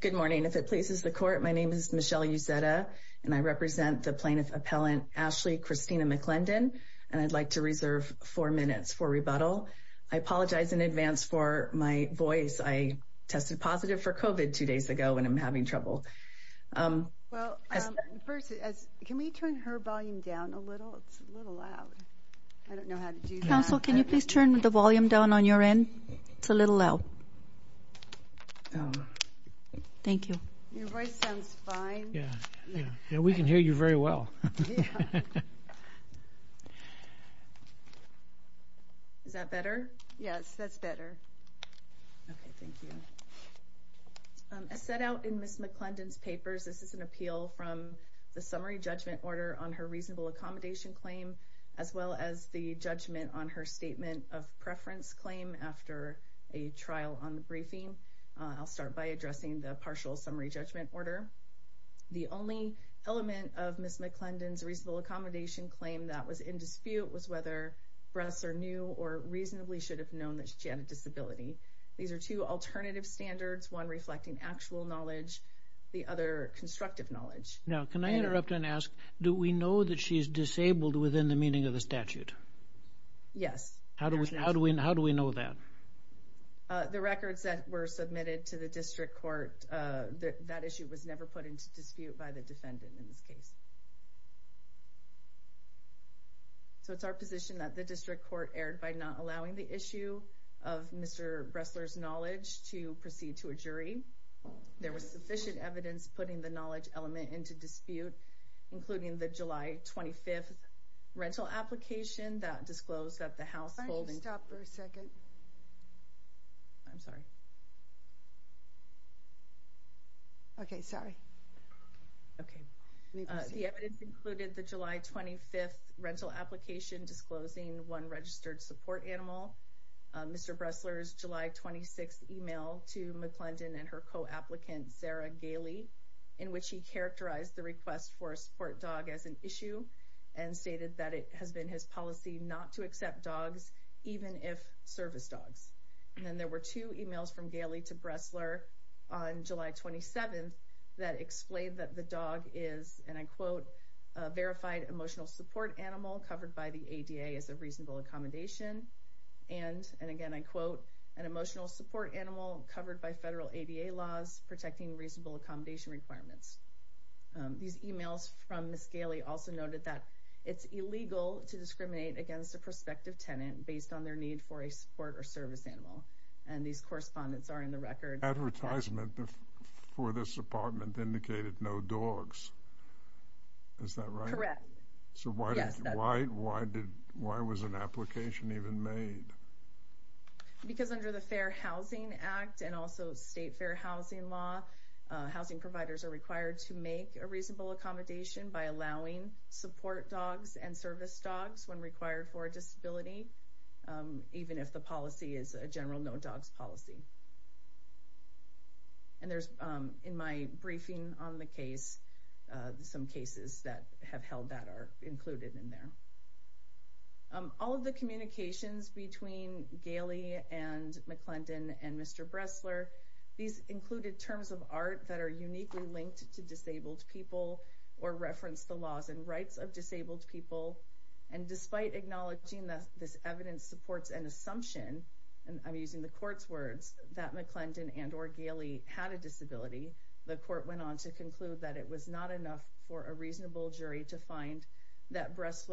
Good morning. If it pleases the court, my name is Michelle Uzeta, and I represent the plaintiff appellant Ashley Christina McClendon, and I'd like to reserve four minutes for rebuttal. I apologize in advance for my voice. I tested positive for COVID two days ago when I'm having trouble. Well, first, can we turn her volume down a little? It's a little loud. I don't know how to do that. Counsel, can you please turn the volume down on your end? It's a little loud. Thank you. Your voice sounds fine. Yeah, we can hear you very well. Is that better? Yes, that's better. Okay, thank you. As set out in Ms. McClendon's papers, this is an appeal from the summary judgment order on her reasonable accommodation claim, as well as the judgment on her statement of preference claim after a trial on the briefing. I'll start by addressing the partial summary judgment order. The only element of Ms. McClendon's reasonable accommodation claim that was in dispute was whether breasts are new or reasonably should have known that she had a disability. These are two alternative standards, one reflecting actual knowledge, the other constructive knowledge. Now, can I interrupt and ask, do we know that she's disabled within the meaning of the statute? Yes. How do we know that? The records that were submitted to the district court, that issue was never put into dispute by the defendant in this case. So it's our position that the district court erred by not allowing the issue of Mr. Bressler's knowledge to proceed to a jury. There was sufficient evidence putting the knowledge element into dispute, including the July 25th rental application that disclosed that the household... Why don't you stop for a second? I'm sorry. Okay, sorry. Okay. The evidence included the July 25th rental application disclosing one registered support animal, Mr. Bressler's July 26th email to not to accept dogs, even if service dogs. And then there were two emails from Gailey to Bressler on July 27th that explained that the dog is, and I quote, a verified emotional support animal covered by the ADA as a reasonable accommodation. And, and again, I quote, an emotional support animal covered by federal ADA laws protecting reasonable accommodation requirements. These emails from Ms. Bressler noted that it's illegal to discriminate against a prospective tenant based on their need for a support or service animal. And these correspondence are in the record. Advertisement for this apartment indicated no dogs. Is that right? Correct. So why, why did, why was an application even made? Because under the Fair Housing Act and also state fair housing law, housing providers are required to make a reasonable accommodation by allowing support dogs and service dogs when required for disability, even if the policy is a general no dogs policy. And there's in my briefing on the case, some cases that have held that are included in there. All of the communications between Gailey and McClendon were either in reference to disabled people or reference the laws and rights of disabled people. And despite acknowledging that this evidence supports an assumption, and I'm using the court's words that McClendon and or Gailey had a disability, the court went on to conclude that it was not a disability. And in the case of Mr.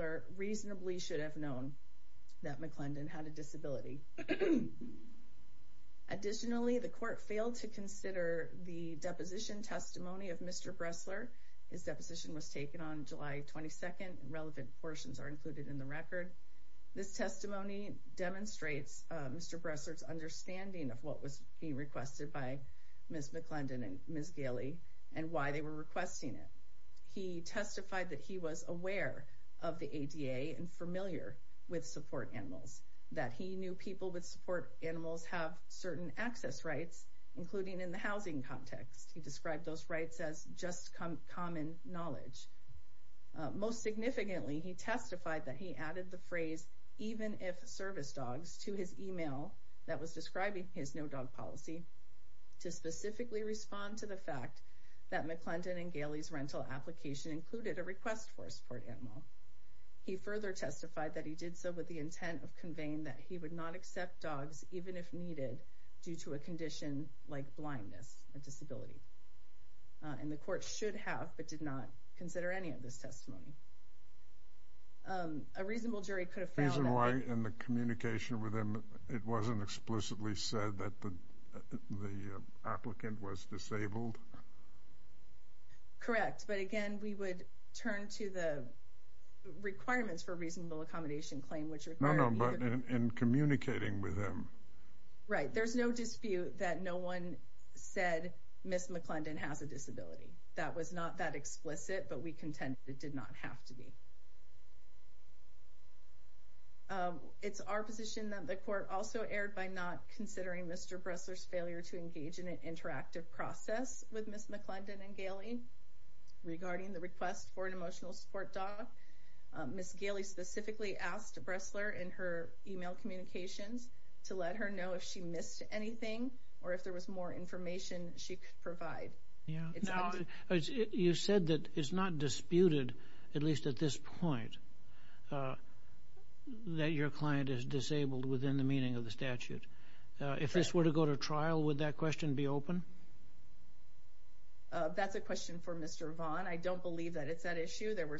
Bressler, his deposition was taken on July 22nd and relevant portions are included in the record. This testimony demonstrates Mr. Bressler's understanding of what was being requested by Ms. McClendon and Ms. Gailey and why they were requesting it. He testified that he was aware of the ADA and familiar with support animals, that he knew people with support animals have certain access rights, including in the housing context. He described those rights as just common knowledge. Most significantly, he testified that he added the phrase, even if service dogs to his email that was describing his no dog policy to specifically respond to the fact that McClendon and Gailey's rental application included a request for support animal. He further testified that he did so with the intent of conveying that he would not accept dogs, even if needed, due to a condition like blindness, a disability. And the court should have, but did not consider any of this when the applicant was disabled? Correct. But again, we would turn to the requirements for reasonable accommodation claim, which required... No, no, but in communicating with them. Right. There's no dispute that no one said Ms. McClendon has a disability. That was not that explicit, but we contend it did not have to be. It's our position that the court also erred by not having an interactive process with Ms. McClendon and Gailey regarding the request for an emotional support dog. Ms. Gailey specifically asked Bressler in her email communications to let her know if she missed anything, or if there was more information she could provide. You said that it's not disputed, at least at this point, that your client is disabled within the meaning of the statute. If this were to go to trial, would that question be open? That's a question for Mr. Vaughn. I don't believe that it's an issue. There were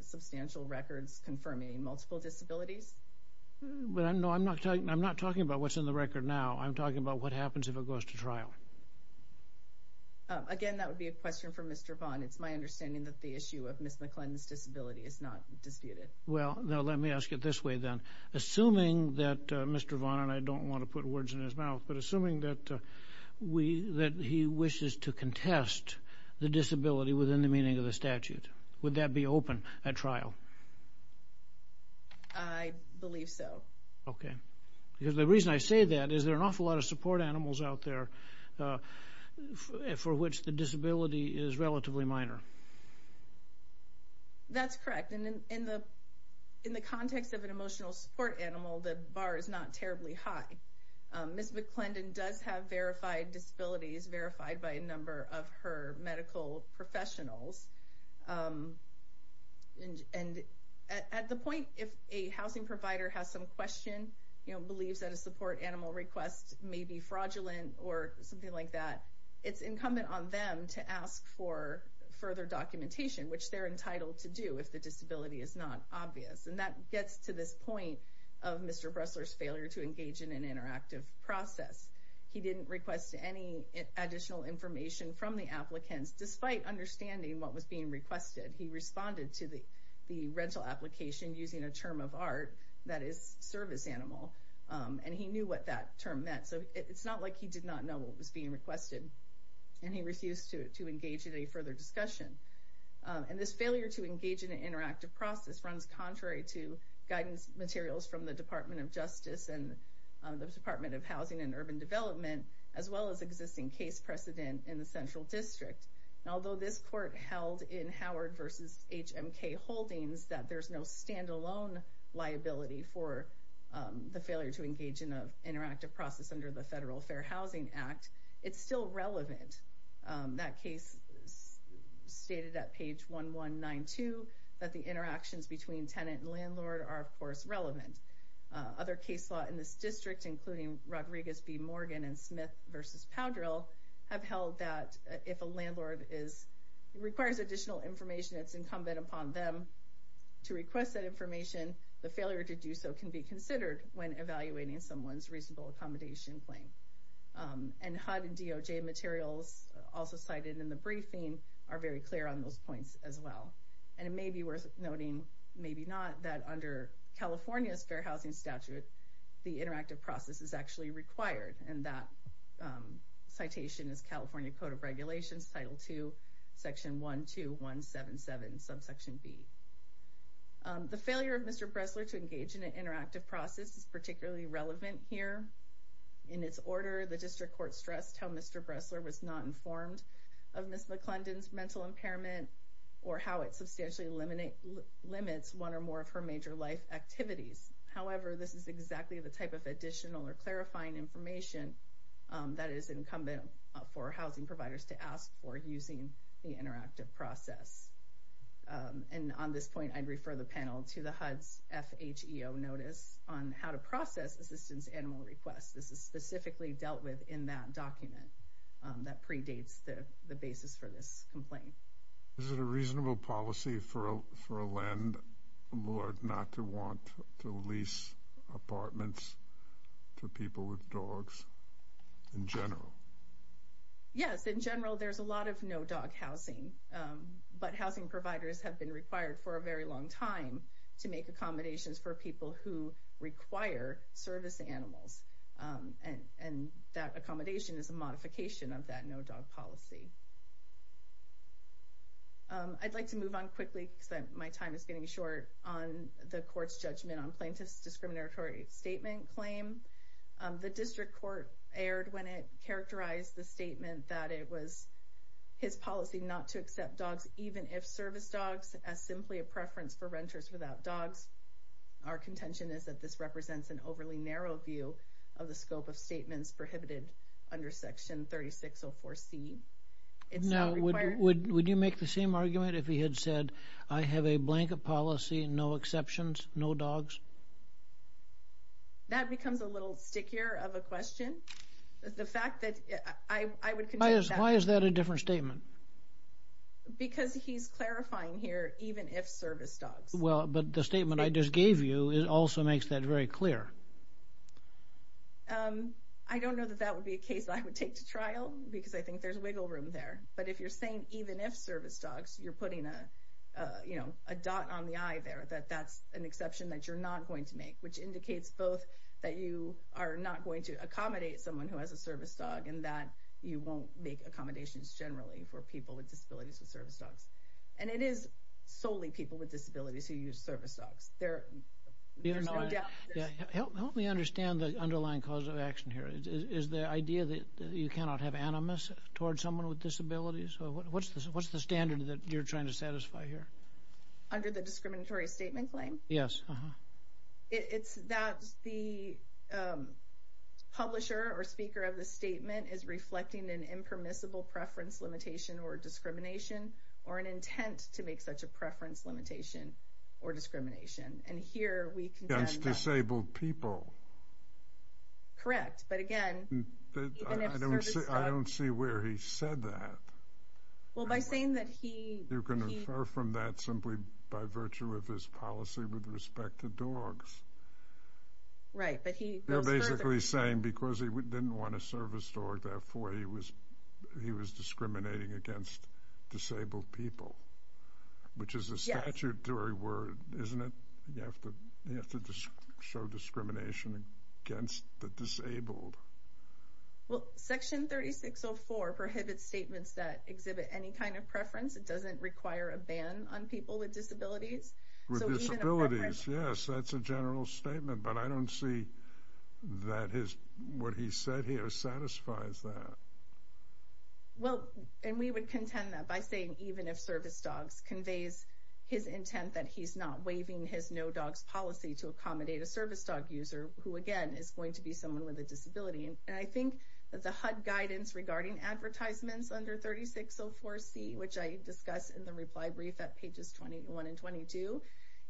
substantial records confirming multiple disabilities. No, I'm not talking about what's in the record now. I'm talking about what happens if it goes to trial. Again, that would be a question for Mr. Vaughn. It's my understanding that the issue of Ms. McClendon's disability is not disputed. Well, let me ask it this way then. Assuming that Mr. Vaughn, and I don't want to put words in his mouth, but assuming that he wishes to contest the disability within the meaning of the statute, would that be open at trial? I believe so. Okay. Because the reason I say that is there are an awful lot of support animals out there for which the disability is relatively minor. That's correct. In the context of an emotional support animal, the bar is not terribly high. Ms. McClendon does have verified disabilities, verified by a number of her medical professionals. At the point if a housing provider has some question, believes that a support animal request may be fraudulent or something like that, it's incumbent on them to ask for further documentation, which they're entitled to do if the disability is not obvious. And that gets to this point of Mr. Bressler's failure to engage in an interactive process. He didn't request any additional information from the applicants, despite understanding what was being requested. He responded to the rental application using a term of art that is service animal, and he knew what that term meant. So it's not like he did not know what was being requested, and he refused to engage in any further discussion. And this failure to engage in an interactive process runs contrary to guidance materials from the Department of Justice and the Department of Housing and Urban Development, as well as existing case precedent in the Central District. Although this court held in Howard v. HMK Holdings that there's no stand-alone liability for the failure to engage in an interactive process under the Federal Fair Housing Act, it's still relevant. That case stated at page 1192 that the interactions between tenant and landlord are, of course, relevant. Other case law in this district, including Rodriguez v. Morgan and Smith v. Powdrill, have held that if a landlord requires additional information that's incumbent upon them to request that information, the failure to do so can be considered when evaluating someone's reasonable accommodation claim. And HUD and DOJ materials also cited in the briefing are very clear on those points as well. And it may be worth noting, maybe not, that under California's Fair Housing Statute, the interactive process is actually required, and that citation is California Code of Regulations, Title II, Section 12177, Subsection B. The failure of Mr. Bressler to engage in an interactive process is particularly relevant here. In its order, the district court stressed how Mr. Bressler was not informed of Ms. McClendon's mental impairment or how it substantially limits one or more of her major life activities. However, this is exactly the type of additional or clarifying information that is incumbent for housing providers to ask for using the interactive process. And on this point, I'd refer the panel to the HUD's FHEO notice on how to process assistance to animal requests. This is specifically dealt with in that document that predates the basis for this complaint. Is it a reasonable policy for a landlord not to want to lease apartments to people with dogs in general? Yes, in general, there's a lot of no-dog housing. But housing providers have been required for a very long time to make accommodations for people who require service animals. And that accommodation is a modification of that no-dog policy. I'd like to move on quickly because my time is getting short on the court's judgment on plaintiff's discriminatory statement claim. The district court erred when it characterized the statement that it was his policy not to accept dogs, even if service dogs, as simply a preference for renters without dogs. Our contention is that this represents an overly narrow view of the scope of statements prohibited under Section 3604C. Now, would you make the same argument if he had said, I have a blanket policy, no exceptions, no dogs? That becomes a little stickier of a question. The fact that I would contend that... Why is that a different statement? Because he's clarifying here, even if service dogs. Well, but the statement I just gave you also makes that very clear. I don't know that that would be a case I would take to trial because I think there's wiggle room there. But if you're saying even if service dogs, you're putting a dot on the I there, that that's an exception that you're not going to make, which indicates both that you are not going to accommodate someone who has a service dog and that you won't make accommodations generally for people with disabilities with service dogs. And it is solely people with disabilities who use service dogs. There's no doubt. Help me understand the underlying cause of action here. Is the idea that you cannot have animus towards someone with disabilities? What's the standard that you're trying to satisfy here? Under the discriminatory statement claim? Yes. It's that the publisher or speaker of the statement is reflecting an impermissible preference limitation or discrimination or an intent to make such a preference limitation or discrimination. And here we contend that... Against disabled people. Correct. But again... I don't see where he said that. Well, by saying that he... You can infer from that simply by virtue of his policy with respect to dogs. Right, but he... You're basically saying because he didn't want a service dog, therefore he was discriminating against disabled people, which is a statutory word, isn't it? You have to show discrimination against the disabled. Well, section 3604 prohibits statements that exhibit any kind of preference. It doesn't require a ban on people with disabilities. With disabilities, yes, that's a general statement. But I don't see that what he said here satisfies that. Well, and we would contend that by saying even if service dogs conveys his intent that he's not waiving his no dogs policy to accommodate a service dog user who, again, is going to be someone with a disability. And I think that the HUD guidance regarding advertisements under 3604C, which I discuss in the reply brief at pages 21 and 22,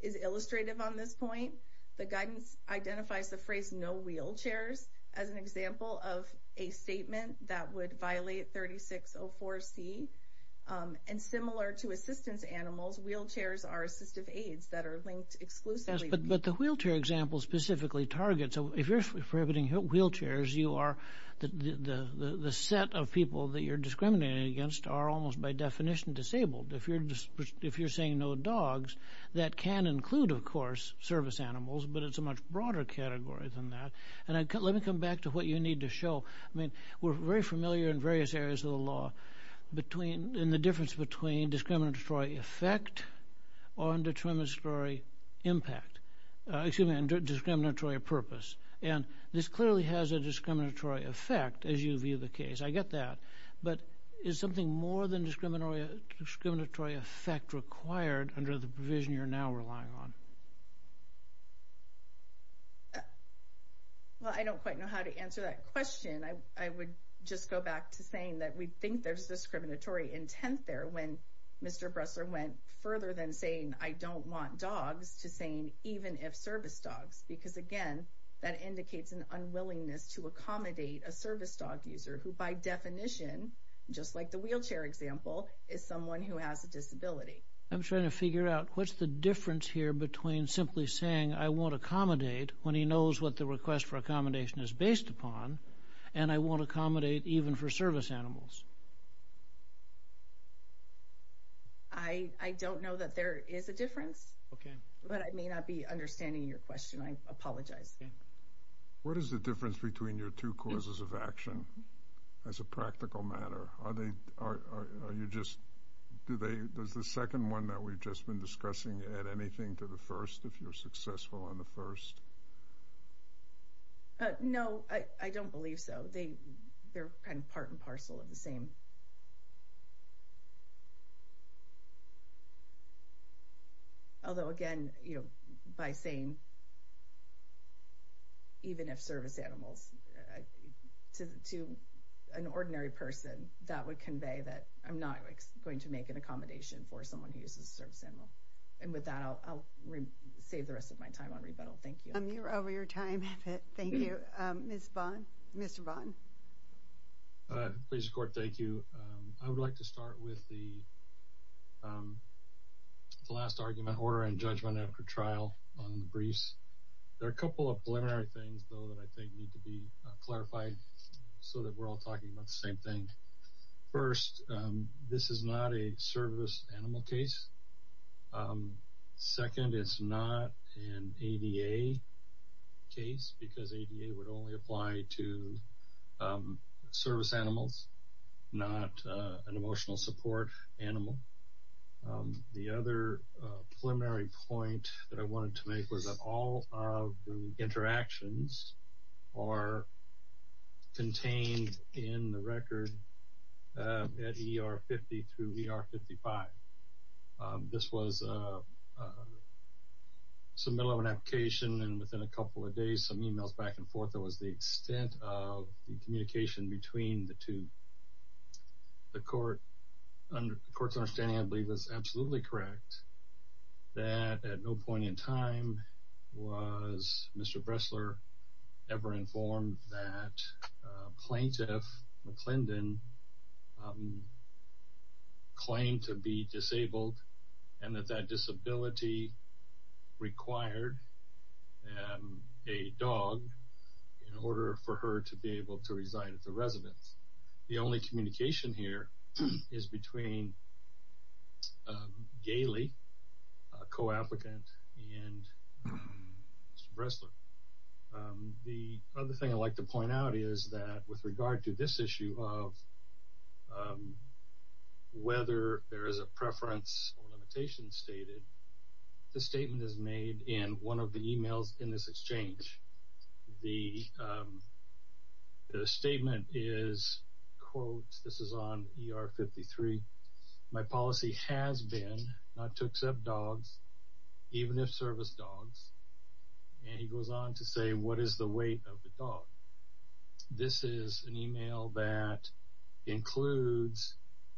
is illustrative on this point. The guidance identifies the phrase no wheelchairs as an example of a statement that would violate 3604C. And similar to assistance animals, wheelchairs are assistive aids that are linked exclusively... Yes, but the wheelchair example specifically targets... If you're prohibiting wheelchairs, you are... The set of people that you're discriminating against are almost by definition disabled. If you're saying no dogs, that can include, of course, service animals, but it's a much broader category than that. And let me come back to what you need to show. I mean, we're very familiar in various areas of the law in the difference between discriminatory effect and discriminatory purpose. And this clearly has a discriminatory effect, as you view the case. I get that. But is something more than discriminatory effect required under the provision you're now relying on? Well, I don't quite know how to answer that question. I would just go back to saying that we think there's discriminatory intent there when Mr. Bressler went further than saying, I don't want dogs, to saying, even if service dogs. Because, again, that indicates an unwillingness to accommodate a service dog user, who by definition, just like the wheelchair example, is someone who has a disability. I'm trying to figure out, what's the difference here between simply saying, I won't accommodate, when he knows what the request for accommodation is based upon, and I won't accommodate even for service animals? I don't know that there is a difference. Okay. But I may not be understanding your question. I apologize. What is the difference between your two causes of action, as a practical matter? Are they, are you just, do they, does the second one that we've just been discussing add anything to the first, if you're successful on the first? No, I don't believe so. They're kind of part and parcel of the same. Although, again, you know, by saying, even if service animals, to an ordinary person, that would convey that I'm not going to make an accommodation for someone who uses a service animal. And with that, I'll save the rest of my time on rebuttal. Thank you. You're over your time. Thank you. Ms. Vaughn? Mr. Vaughn? Pleasure, Court. Thank you. I would like to start with the last argument, order and judgment after trial on the briefs. There are a couple of preliminary things, though, that I think need to be clarified so that we're all talking about the same thing. First, this is not a service animal case. Second, it's not an ADA case because ADA would only apply to service animals. It's not an emotional support animal. The other preliminary point that I wanted to make was that all of the interactions are contained in the record at ER50 through ER55. This was some middle of an application, and within a couple of days, some emails back and forth. It was the extent of the communication between the two. The court's understanding, I believe, is absolutely correct that at no point in time was Mr. Bressler ever informed that Plaintiff McClendon claimed to be disabled and that that disability required a dog in order for her to be able to resign as a resident. The only communication here is between Gailey, a co-applicant, and Mr. Bressler. The other thing I'd like to point out is that with regard to this issue of whether there is a preference or limitation stated, the statement is made in one of the emails in this exchange. The statement is, quote, this is on ER53, my policy has been not to accept dogs, even if service dogs. And he goes on to say, what is the weight of the dog? This is an email that includes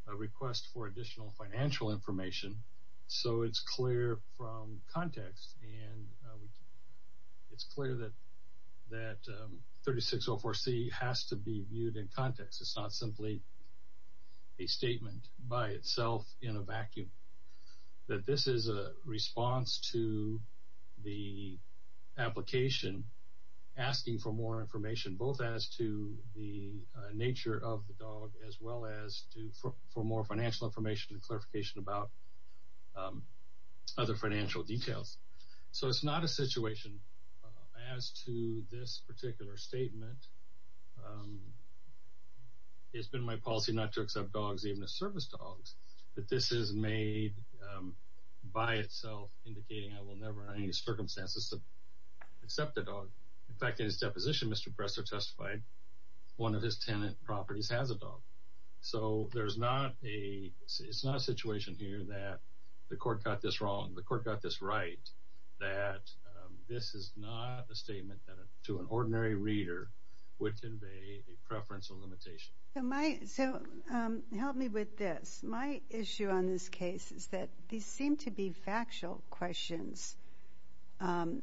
a request for additional financial information. So it's clear from context, and it's clear that 3604C has to be viewed in context. It's not simply a statement by itself in a vacuum, that this is a response to the application asking for more information both as to the nature of the dog as well as for more financial information and clarification about other financial details. So it's not a situation as to this particular statement, it's been my policy not to accept dogs, even if service dogs, that this is made by itself indicating I will never under any circumstances accept a dog. In fact, in his deposition, Mr. Bressler testified one of his tenant properties has a dog. So it's not a situation here that the court got this wrong, the court got this right, that this is not a statement that to an ordinary reader would convey a preference or limitation. So help me with this. My issue on this case is that these seem to be factual questions and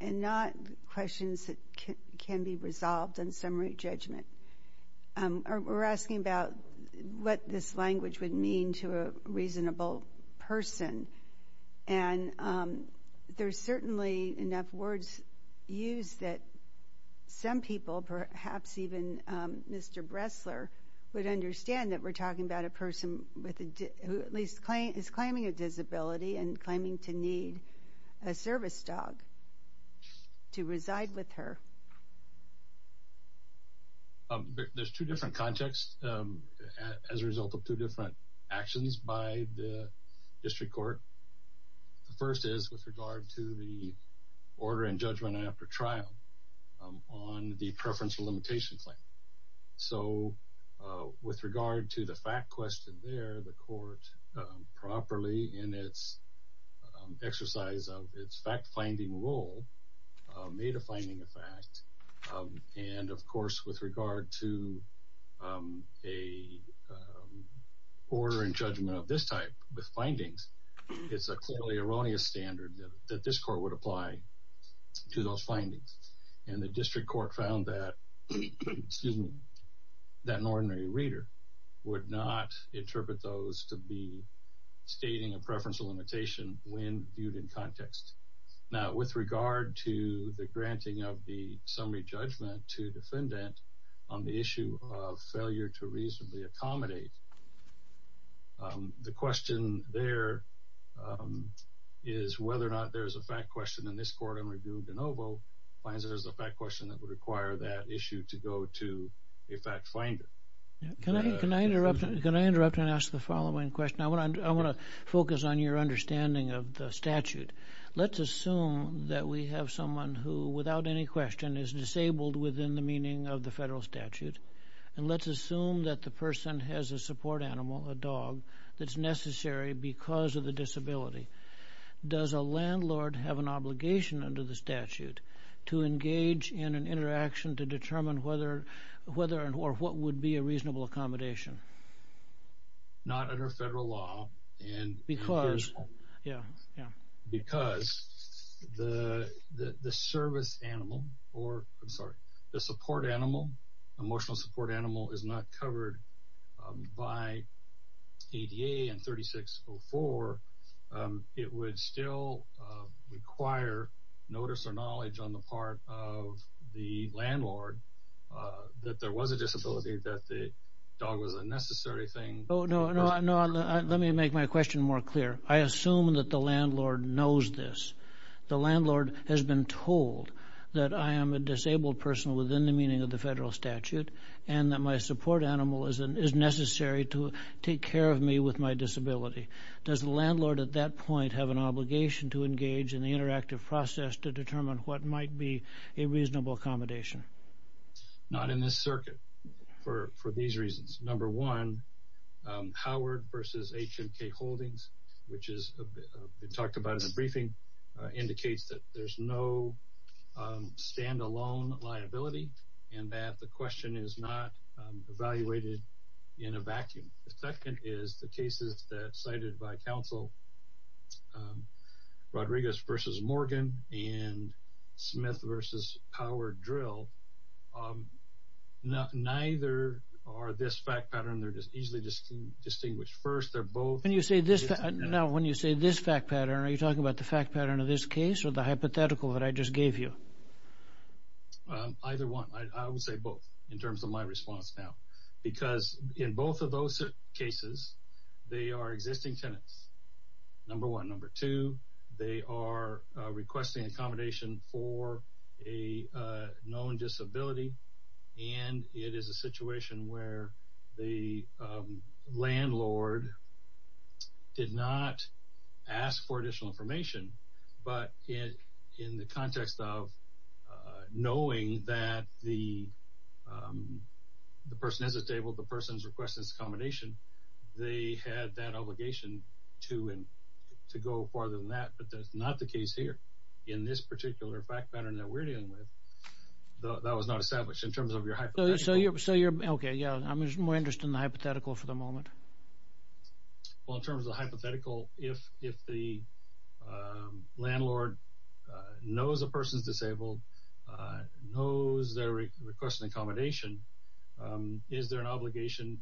not questions that can be resolved in summary judgment. We're asking about what this language would mean to a reasonable person, and there's certainly enough words used that some people, perhaps even Mr. Bressler, would understand that we're talking about a person who at least is claiming a disability and claiming to need a service dog to reside with her. There's two different contexts as a result of two different actions by the district court. The first is with regard to the order in judgment after trial on the preference or limitation claim. So with regard to the fact question there, the court, properly in its exercise of its fact-finding role, made a finding of fact. And, of course, with regard to a order in judgment of this type with findings, it's a clearly erroneous standard that this court would apply to those findings. And the district court found that an ordinary reader would not interpret those to be stating a preference or limitation when viewed in context. Now, with regard to the granting of the summary judgment to defendant on the issue of failure to reasonably accommodate, the question there is whether or not there's a fact question in this court finds that there's a fact question that would require that issue to go to a fact finder. Can I interrupt and ask the following question? I want to focus on your understanding of the statute. Let's assume that we have someone who, without any question, is disabled within the meaning of the federal statute. And let's assume that the person has a support animal, a dog, that's necessary because of the disability. Does a landlord have an obligation under the statute to engage in an interaction to determine whether or what would be a reasonable accommodation? Not under federal law. Because? Yeah, yeah. Because the service animal or, I'm sorry, the support animal, emotional support animal is not covered by ADA and 3604, it would still require notice or knowledge on the part of the landlord that there was a disability, that the dog was a necessary thing. No, no, let me make my question more clear. I assume that the landlord knows this. The landlord has been told that I am a disabled person within the meaning of the federal statute and that my support animal is necessary to take care of me with my disability. Does the landlord at that point have an obligation to engage in the interactive process to determine what might be a reasonable accommodation? Not in this circuit for these reasons. Number one, Howard v. H&K Holdings, which has been talked about in the briefing, indicates that there's no stand-alone liability and that the question is not evaluated in a vacuum. The second is the cases that are cited by counsel, Rodriguez v. Morgan and Smith v. Power Drill. Neither are this fact pattern. They're just easily distinguished. First, they're both. When you say this fact pattern, are you talking about the fact pattern of this case or the hypothetical that I just gave you? Either one. I would say both in terms of my response now because in both of those cases, they are existing tenants. Number one. Number two, they are requesting accommodation for a known disability and it is a situation where the landlord did not ask for additional information, but in the context of knowing that the person has a table, the person's request is accommodation, they had that obligation to go farther than that. But that's not the case here. In this particular fact pattern that we're dealing with, that was not established in terms of your hypothetical. Okay. I'm just more interested in the hypothetical for the moment. Well, in terms of the hypothetical, if the landlord knows a person is disabled, knows their request for accommodation, is there an obligation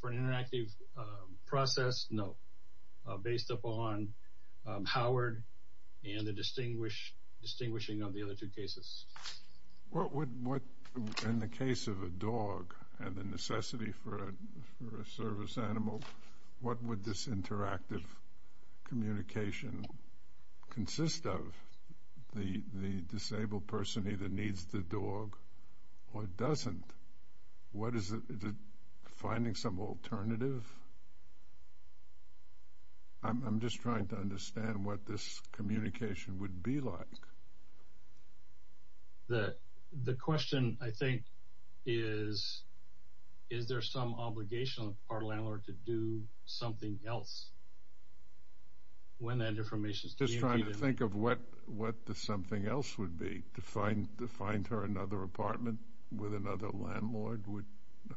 for an interactive process? No. Based upon Howard and the distinguishing of the other two cases. What would, in the case of a dog and the necessity for a service animal, what would this interactive communication consist of? The disabled person either needs the dog or doesn't. What is it? Is it finding some alternative? I'm just trying to understand what this communication would be like. The question, I think, is, is there some obligation on the part of the landlord to do something else when that information is communicated? Just trying to think of what the something else would be, to find her another apartment with another landlord who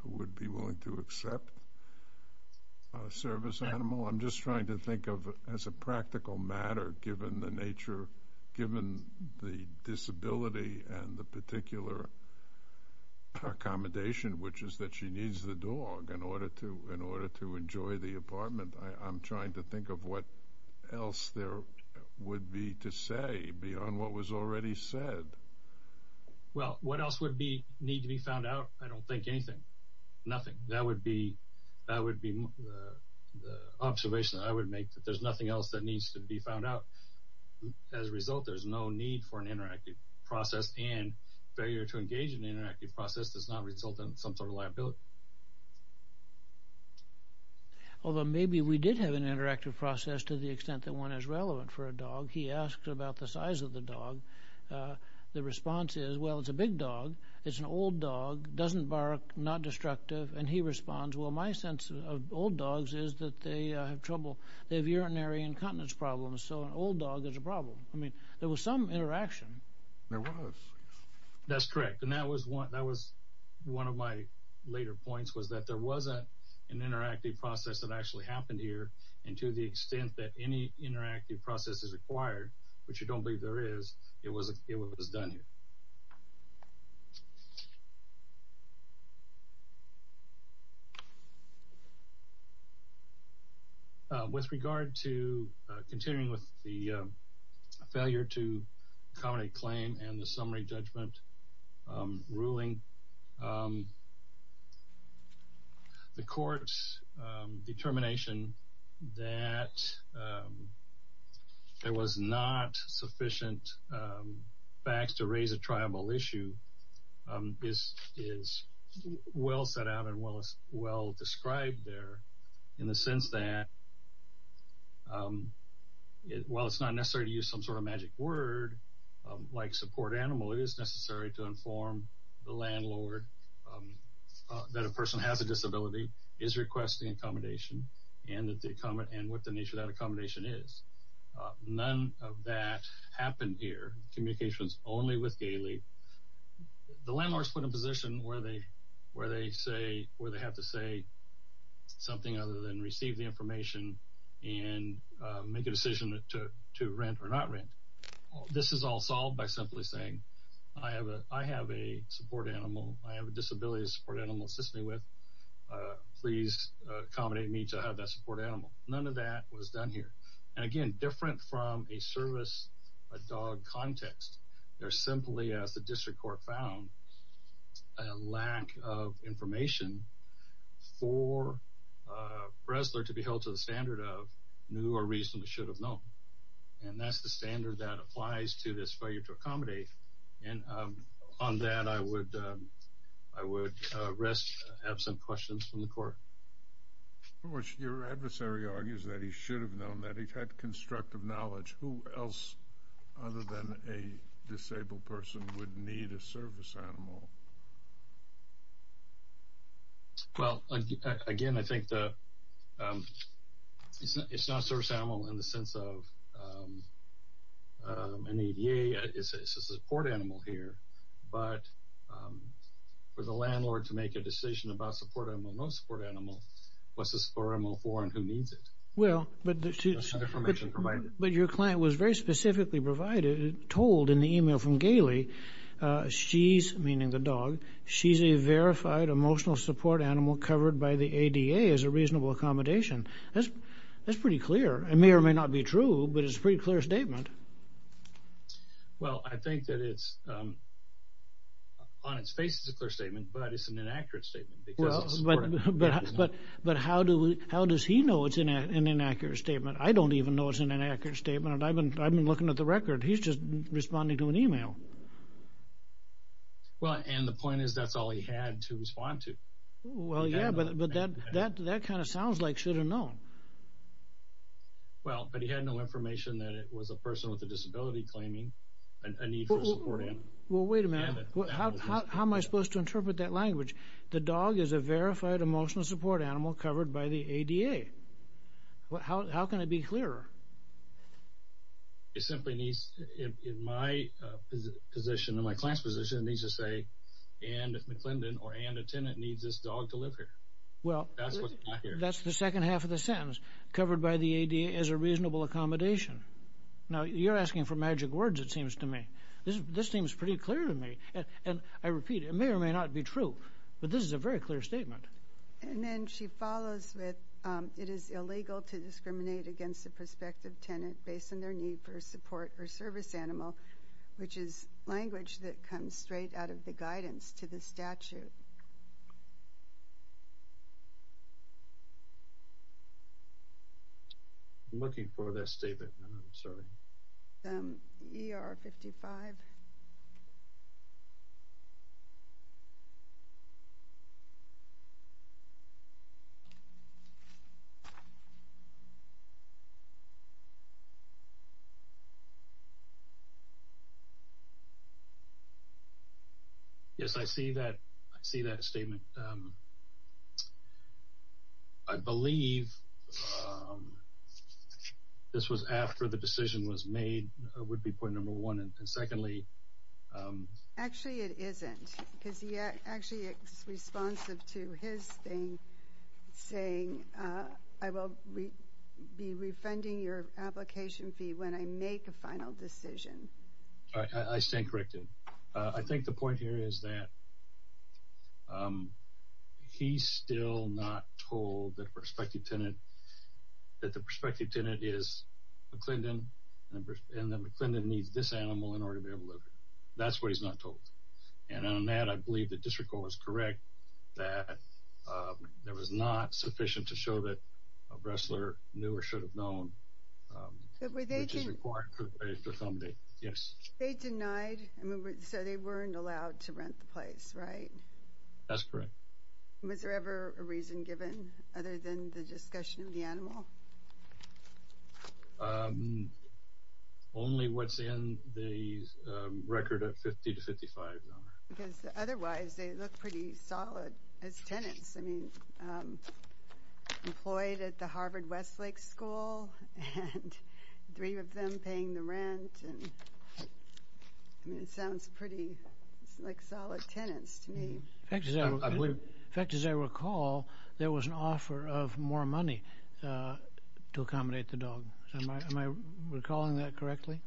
would be willing to accept a service animal. I'm just trying to think of, as a practical matter, given the nature, given the disability and the particular accommodation, which is that she needs the dog in order to enjoy the apartment, I'm trying to think of what else there would be to say beyond what was already said. Well, what else would need to be found out? I don't think anything, nothing. That would be the observation that I would make, that there's nothing else that needs to be found out. As a result, there's no need for an interactive process and failure to engage in an interactive process does not result in some sort of liability. Although maybe we did have an interactive process to the extent that one is relevant for a dog. He asked about the size of the dog. The response is, well, it's a big dog. It's an old dog, doesn't bark, not destructive. And he responds, well, my sense of old dogs is that they have trouble. They have urinary incontinence problems, so an old dog is a problem. I mean, there was some interaction. There was. That's correct, and that was one of my later points was that there was an interactive process that actually happened here, and to the extent that any interactive process is required, which I don't believe there is, it was done here. With regard to continuing with the failure to accommodate claim and the summary judgment ruling, the court's determination that there was not sufficient facts to raise a tribal issue is well set out and well described there in the sense that while it's not necessary to use some sort of magic word like support animal, it is necessary to inform the landlord that a person has a disability, is requesting accommodation, and what the nature of that accommodation is. None of that happened here. Communication is only with Galey. The landlord is put in a position where they have to say something other than receive the information and make a decision to rent or not rent. This is all solved by simply saying, I have a support animal, I have a disability, a support animal to assist me with. Please accommodate me to have that support animal. None of that was done here. Again, different from a service, a dog context, there's simply, as the district court found, a lack of information for Bresler to be held to the standard of knew or reasonably should have known, and that's the standard that applies to this failure to accommodate, and on that I would rest absent questions from the court. Your adversary argues that he should have known, that he had constructive knowledge. Who else other than a disabled person would need a service animal? Well, again, I think it's not a service animal in the sense of an ADA, it's a support animal here, but for the landlord to make a decision about support animal, no support animal, what's the support animal for and who needs it? Well, but your client was very specifically provided, told in the email from Gailey, she's, meaning the dog, she's a verified emotional support animal covered by the ADA as a reasonable accommodation. That's pretty clear. It may or may not be true, but it's a pretty clear statement. Well, I think that it's, on its face it's a clear statement, but it's an inaccurate statement because it's a support animal. But how does he know it's an inaccurate statement? I don't even know it's an inaccurate statement. I've been looking at the record. He's just responding to an email. Well, and the point is that's all he had to respond to. Well, yeah, but that kind of sounds like should have known. Well, but he had no information that it was a person with a disability claiming a need for a support animal. Well, wait a minute. How am I supposed to interpret that language? The dog is a verified emotional support animal covered by the ADA. How can it be clearer? It simply needs, in my position, in my class position, it needs to say Anne McClendon or Anne the tenant needs this dog to live here. Well, that's the second half of the sentence, covered by the ADA as a reasonable accommodation. Now, you're asking for magic words, it seems to me. This seems pretty clear to me, and I repeat, it may or may not be true, but this is a very clear statement. And then she follows with, it is illegal to discriminate against a prospective tenant based on their need for a support or service animal, which is language that comes straight out of the guidance to the statute. I'm looking for that statement. I'm sorry. ER 55. Yes, I see that. I see that statement. I believe this was after the decision was made, would be point number one. And secondly... Actually, it isn't. which is that it is illegal to discriminate against a prospective tenant saying I will be refunding your application fee when I make a final decision. I stand corrected. I think the point here is that he's still not told that the prospective tenant is McClendon, and that McClendon needs this animal in order to be able to live here. That's what he's not told. And on that, I believe the district court was correct that there was not sufficient to show that a wrestler knew or should have known, which is required for somebody. Yes. They denied, so they weren't allowed to rent the place, right? That's correct. Only what's in the record of 50 to 55. Because otherwise, they look pretty solid as tenants. I mean, employed at the Harvard Westlake School and three of them paying the rent. I mean, it sounds pretty like solid tenants to me. In fact, as I recall, there was an offer of more money to accommodate the dog. Am I recalling that correctly?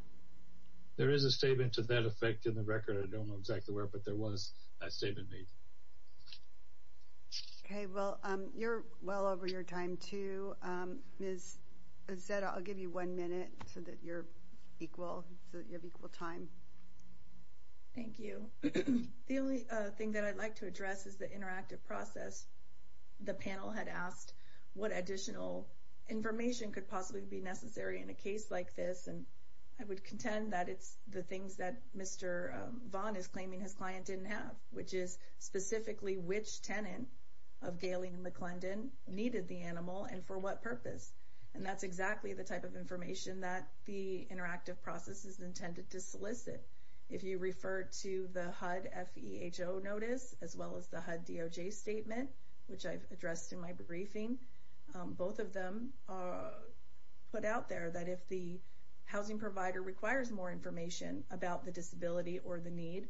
There is a statement to that effect in the record. I don't know exactly where, but there was a statement made. Okay. Well, you're well over your time, too. Ms. Zetta, I'll give you one minute so that you're equal, so that you have equal time. Thank you. The only thing that I'd like to address is the interactive process. The panel had asked what additional information could possibly be necessary in a case like this, and I would contend that it's the things that Mr. Vaughn is claiming his client didn't have, which is specifically which tenant of Galen and McClendon needed the animal and for what purpose. And that's exactly the type of information that the interactive process is intended to solicit. If you refer to the HUD FEHO notice as well as the HUD DOJ statement, which I've addressed in my briefing, both of them put out there that if the housing provider requires more information about the disability or the need,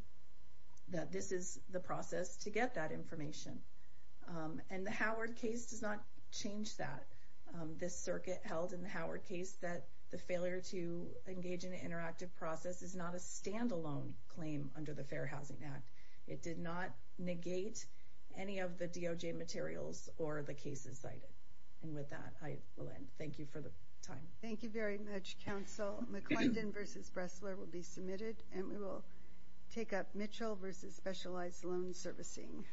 that this is the process to get that information. And the Howard case does not change that. This circuit held in the Howard case that the failure to engage in an interactive process is not a standalone claim under the Fair Housing Act. It did not negate any of the DOJ materials or the cases cited. And with that, I will end. Thank you for the time. Thank you very much, counsel. McClendon v. Bressler will be submitted, and we will take up Mitchell v. Specialized Loan Servicing.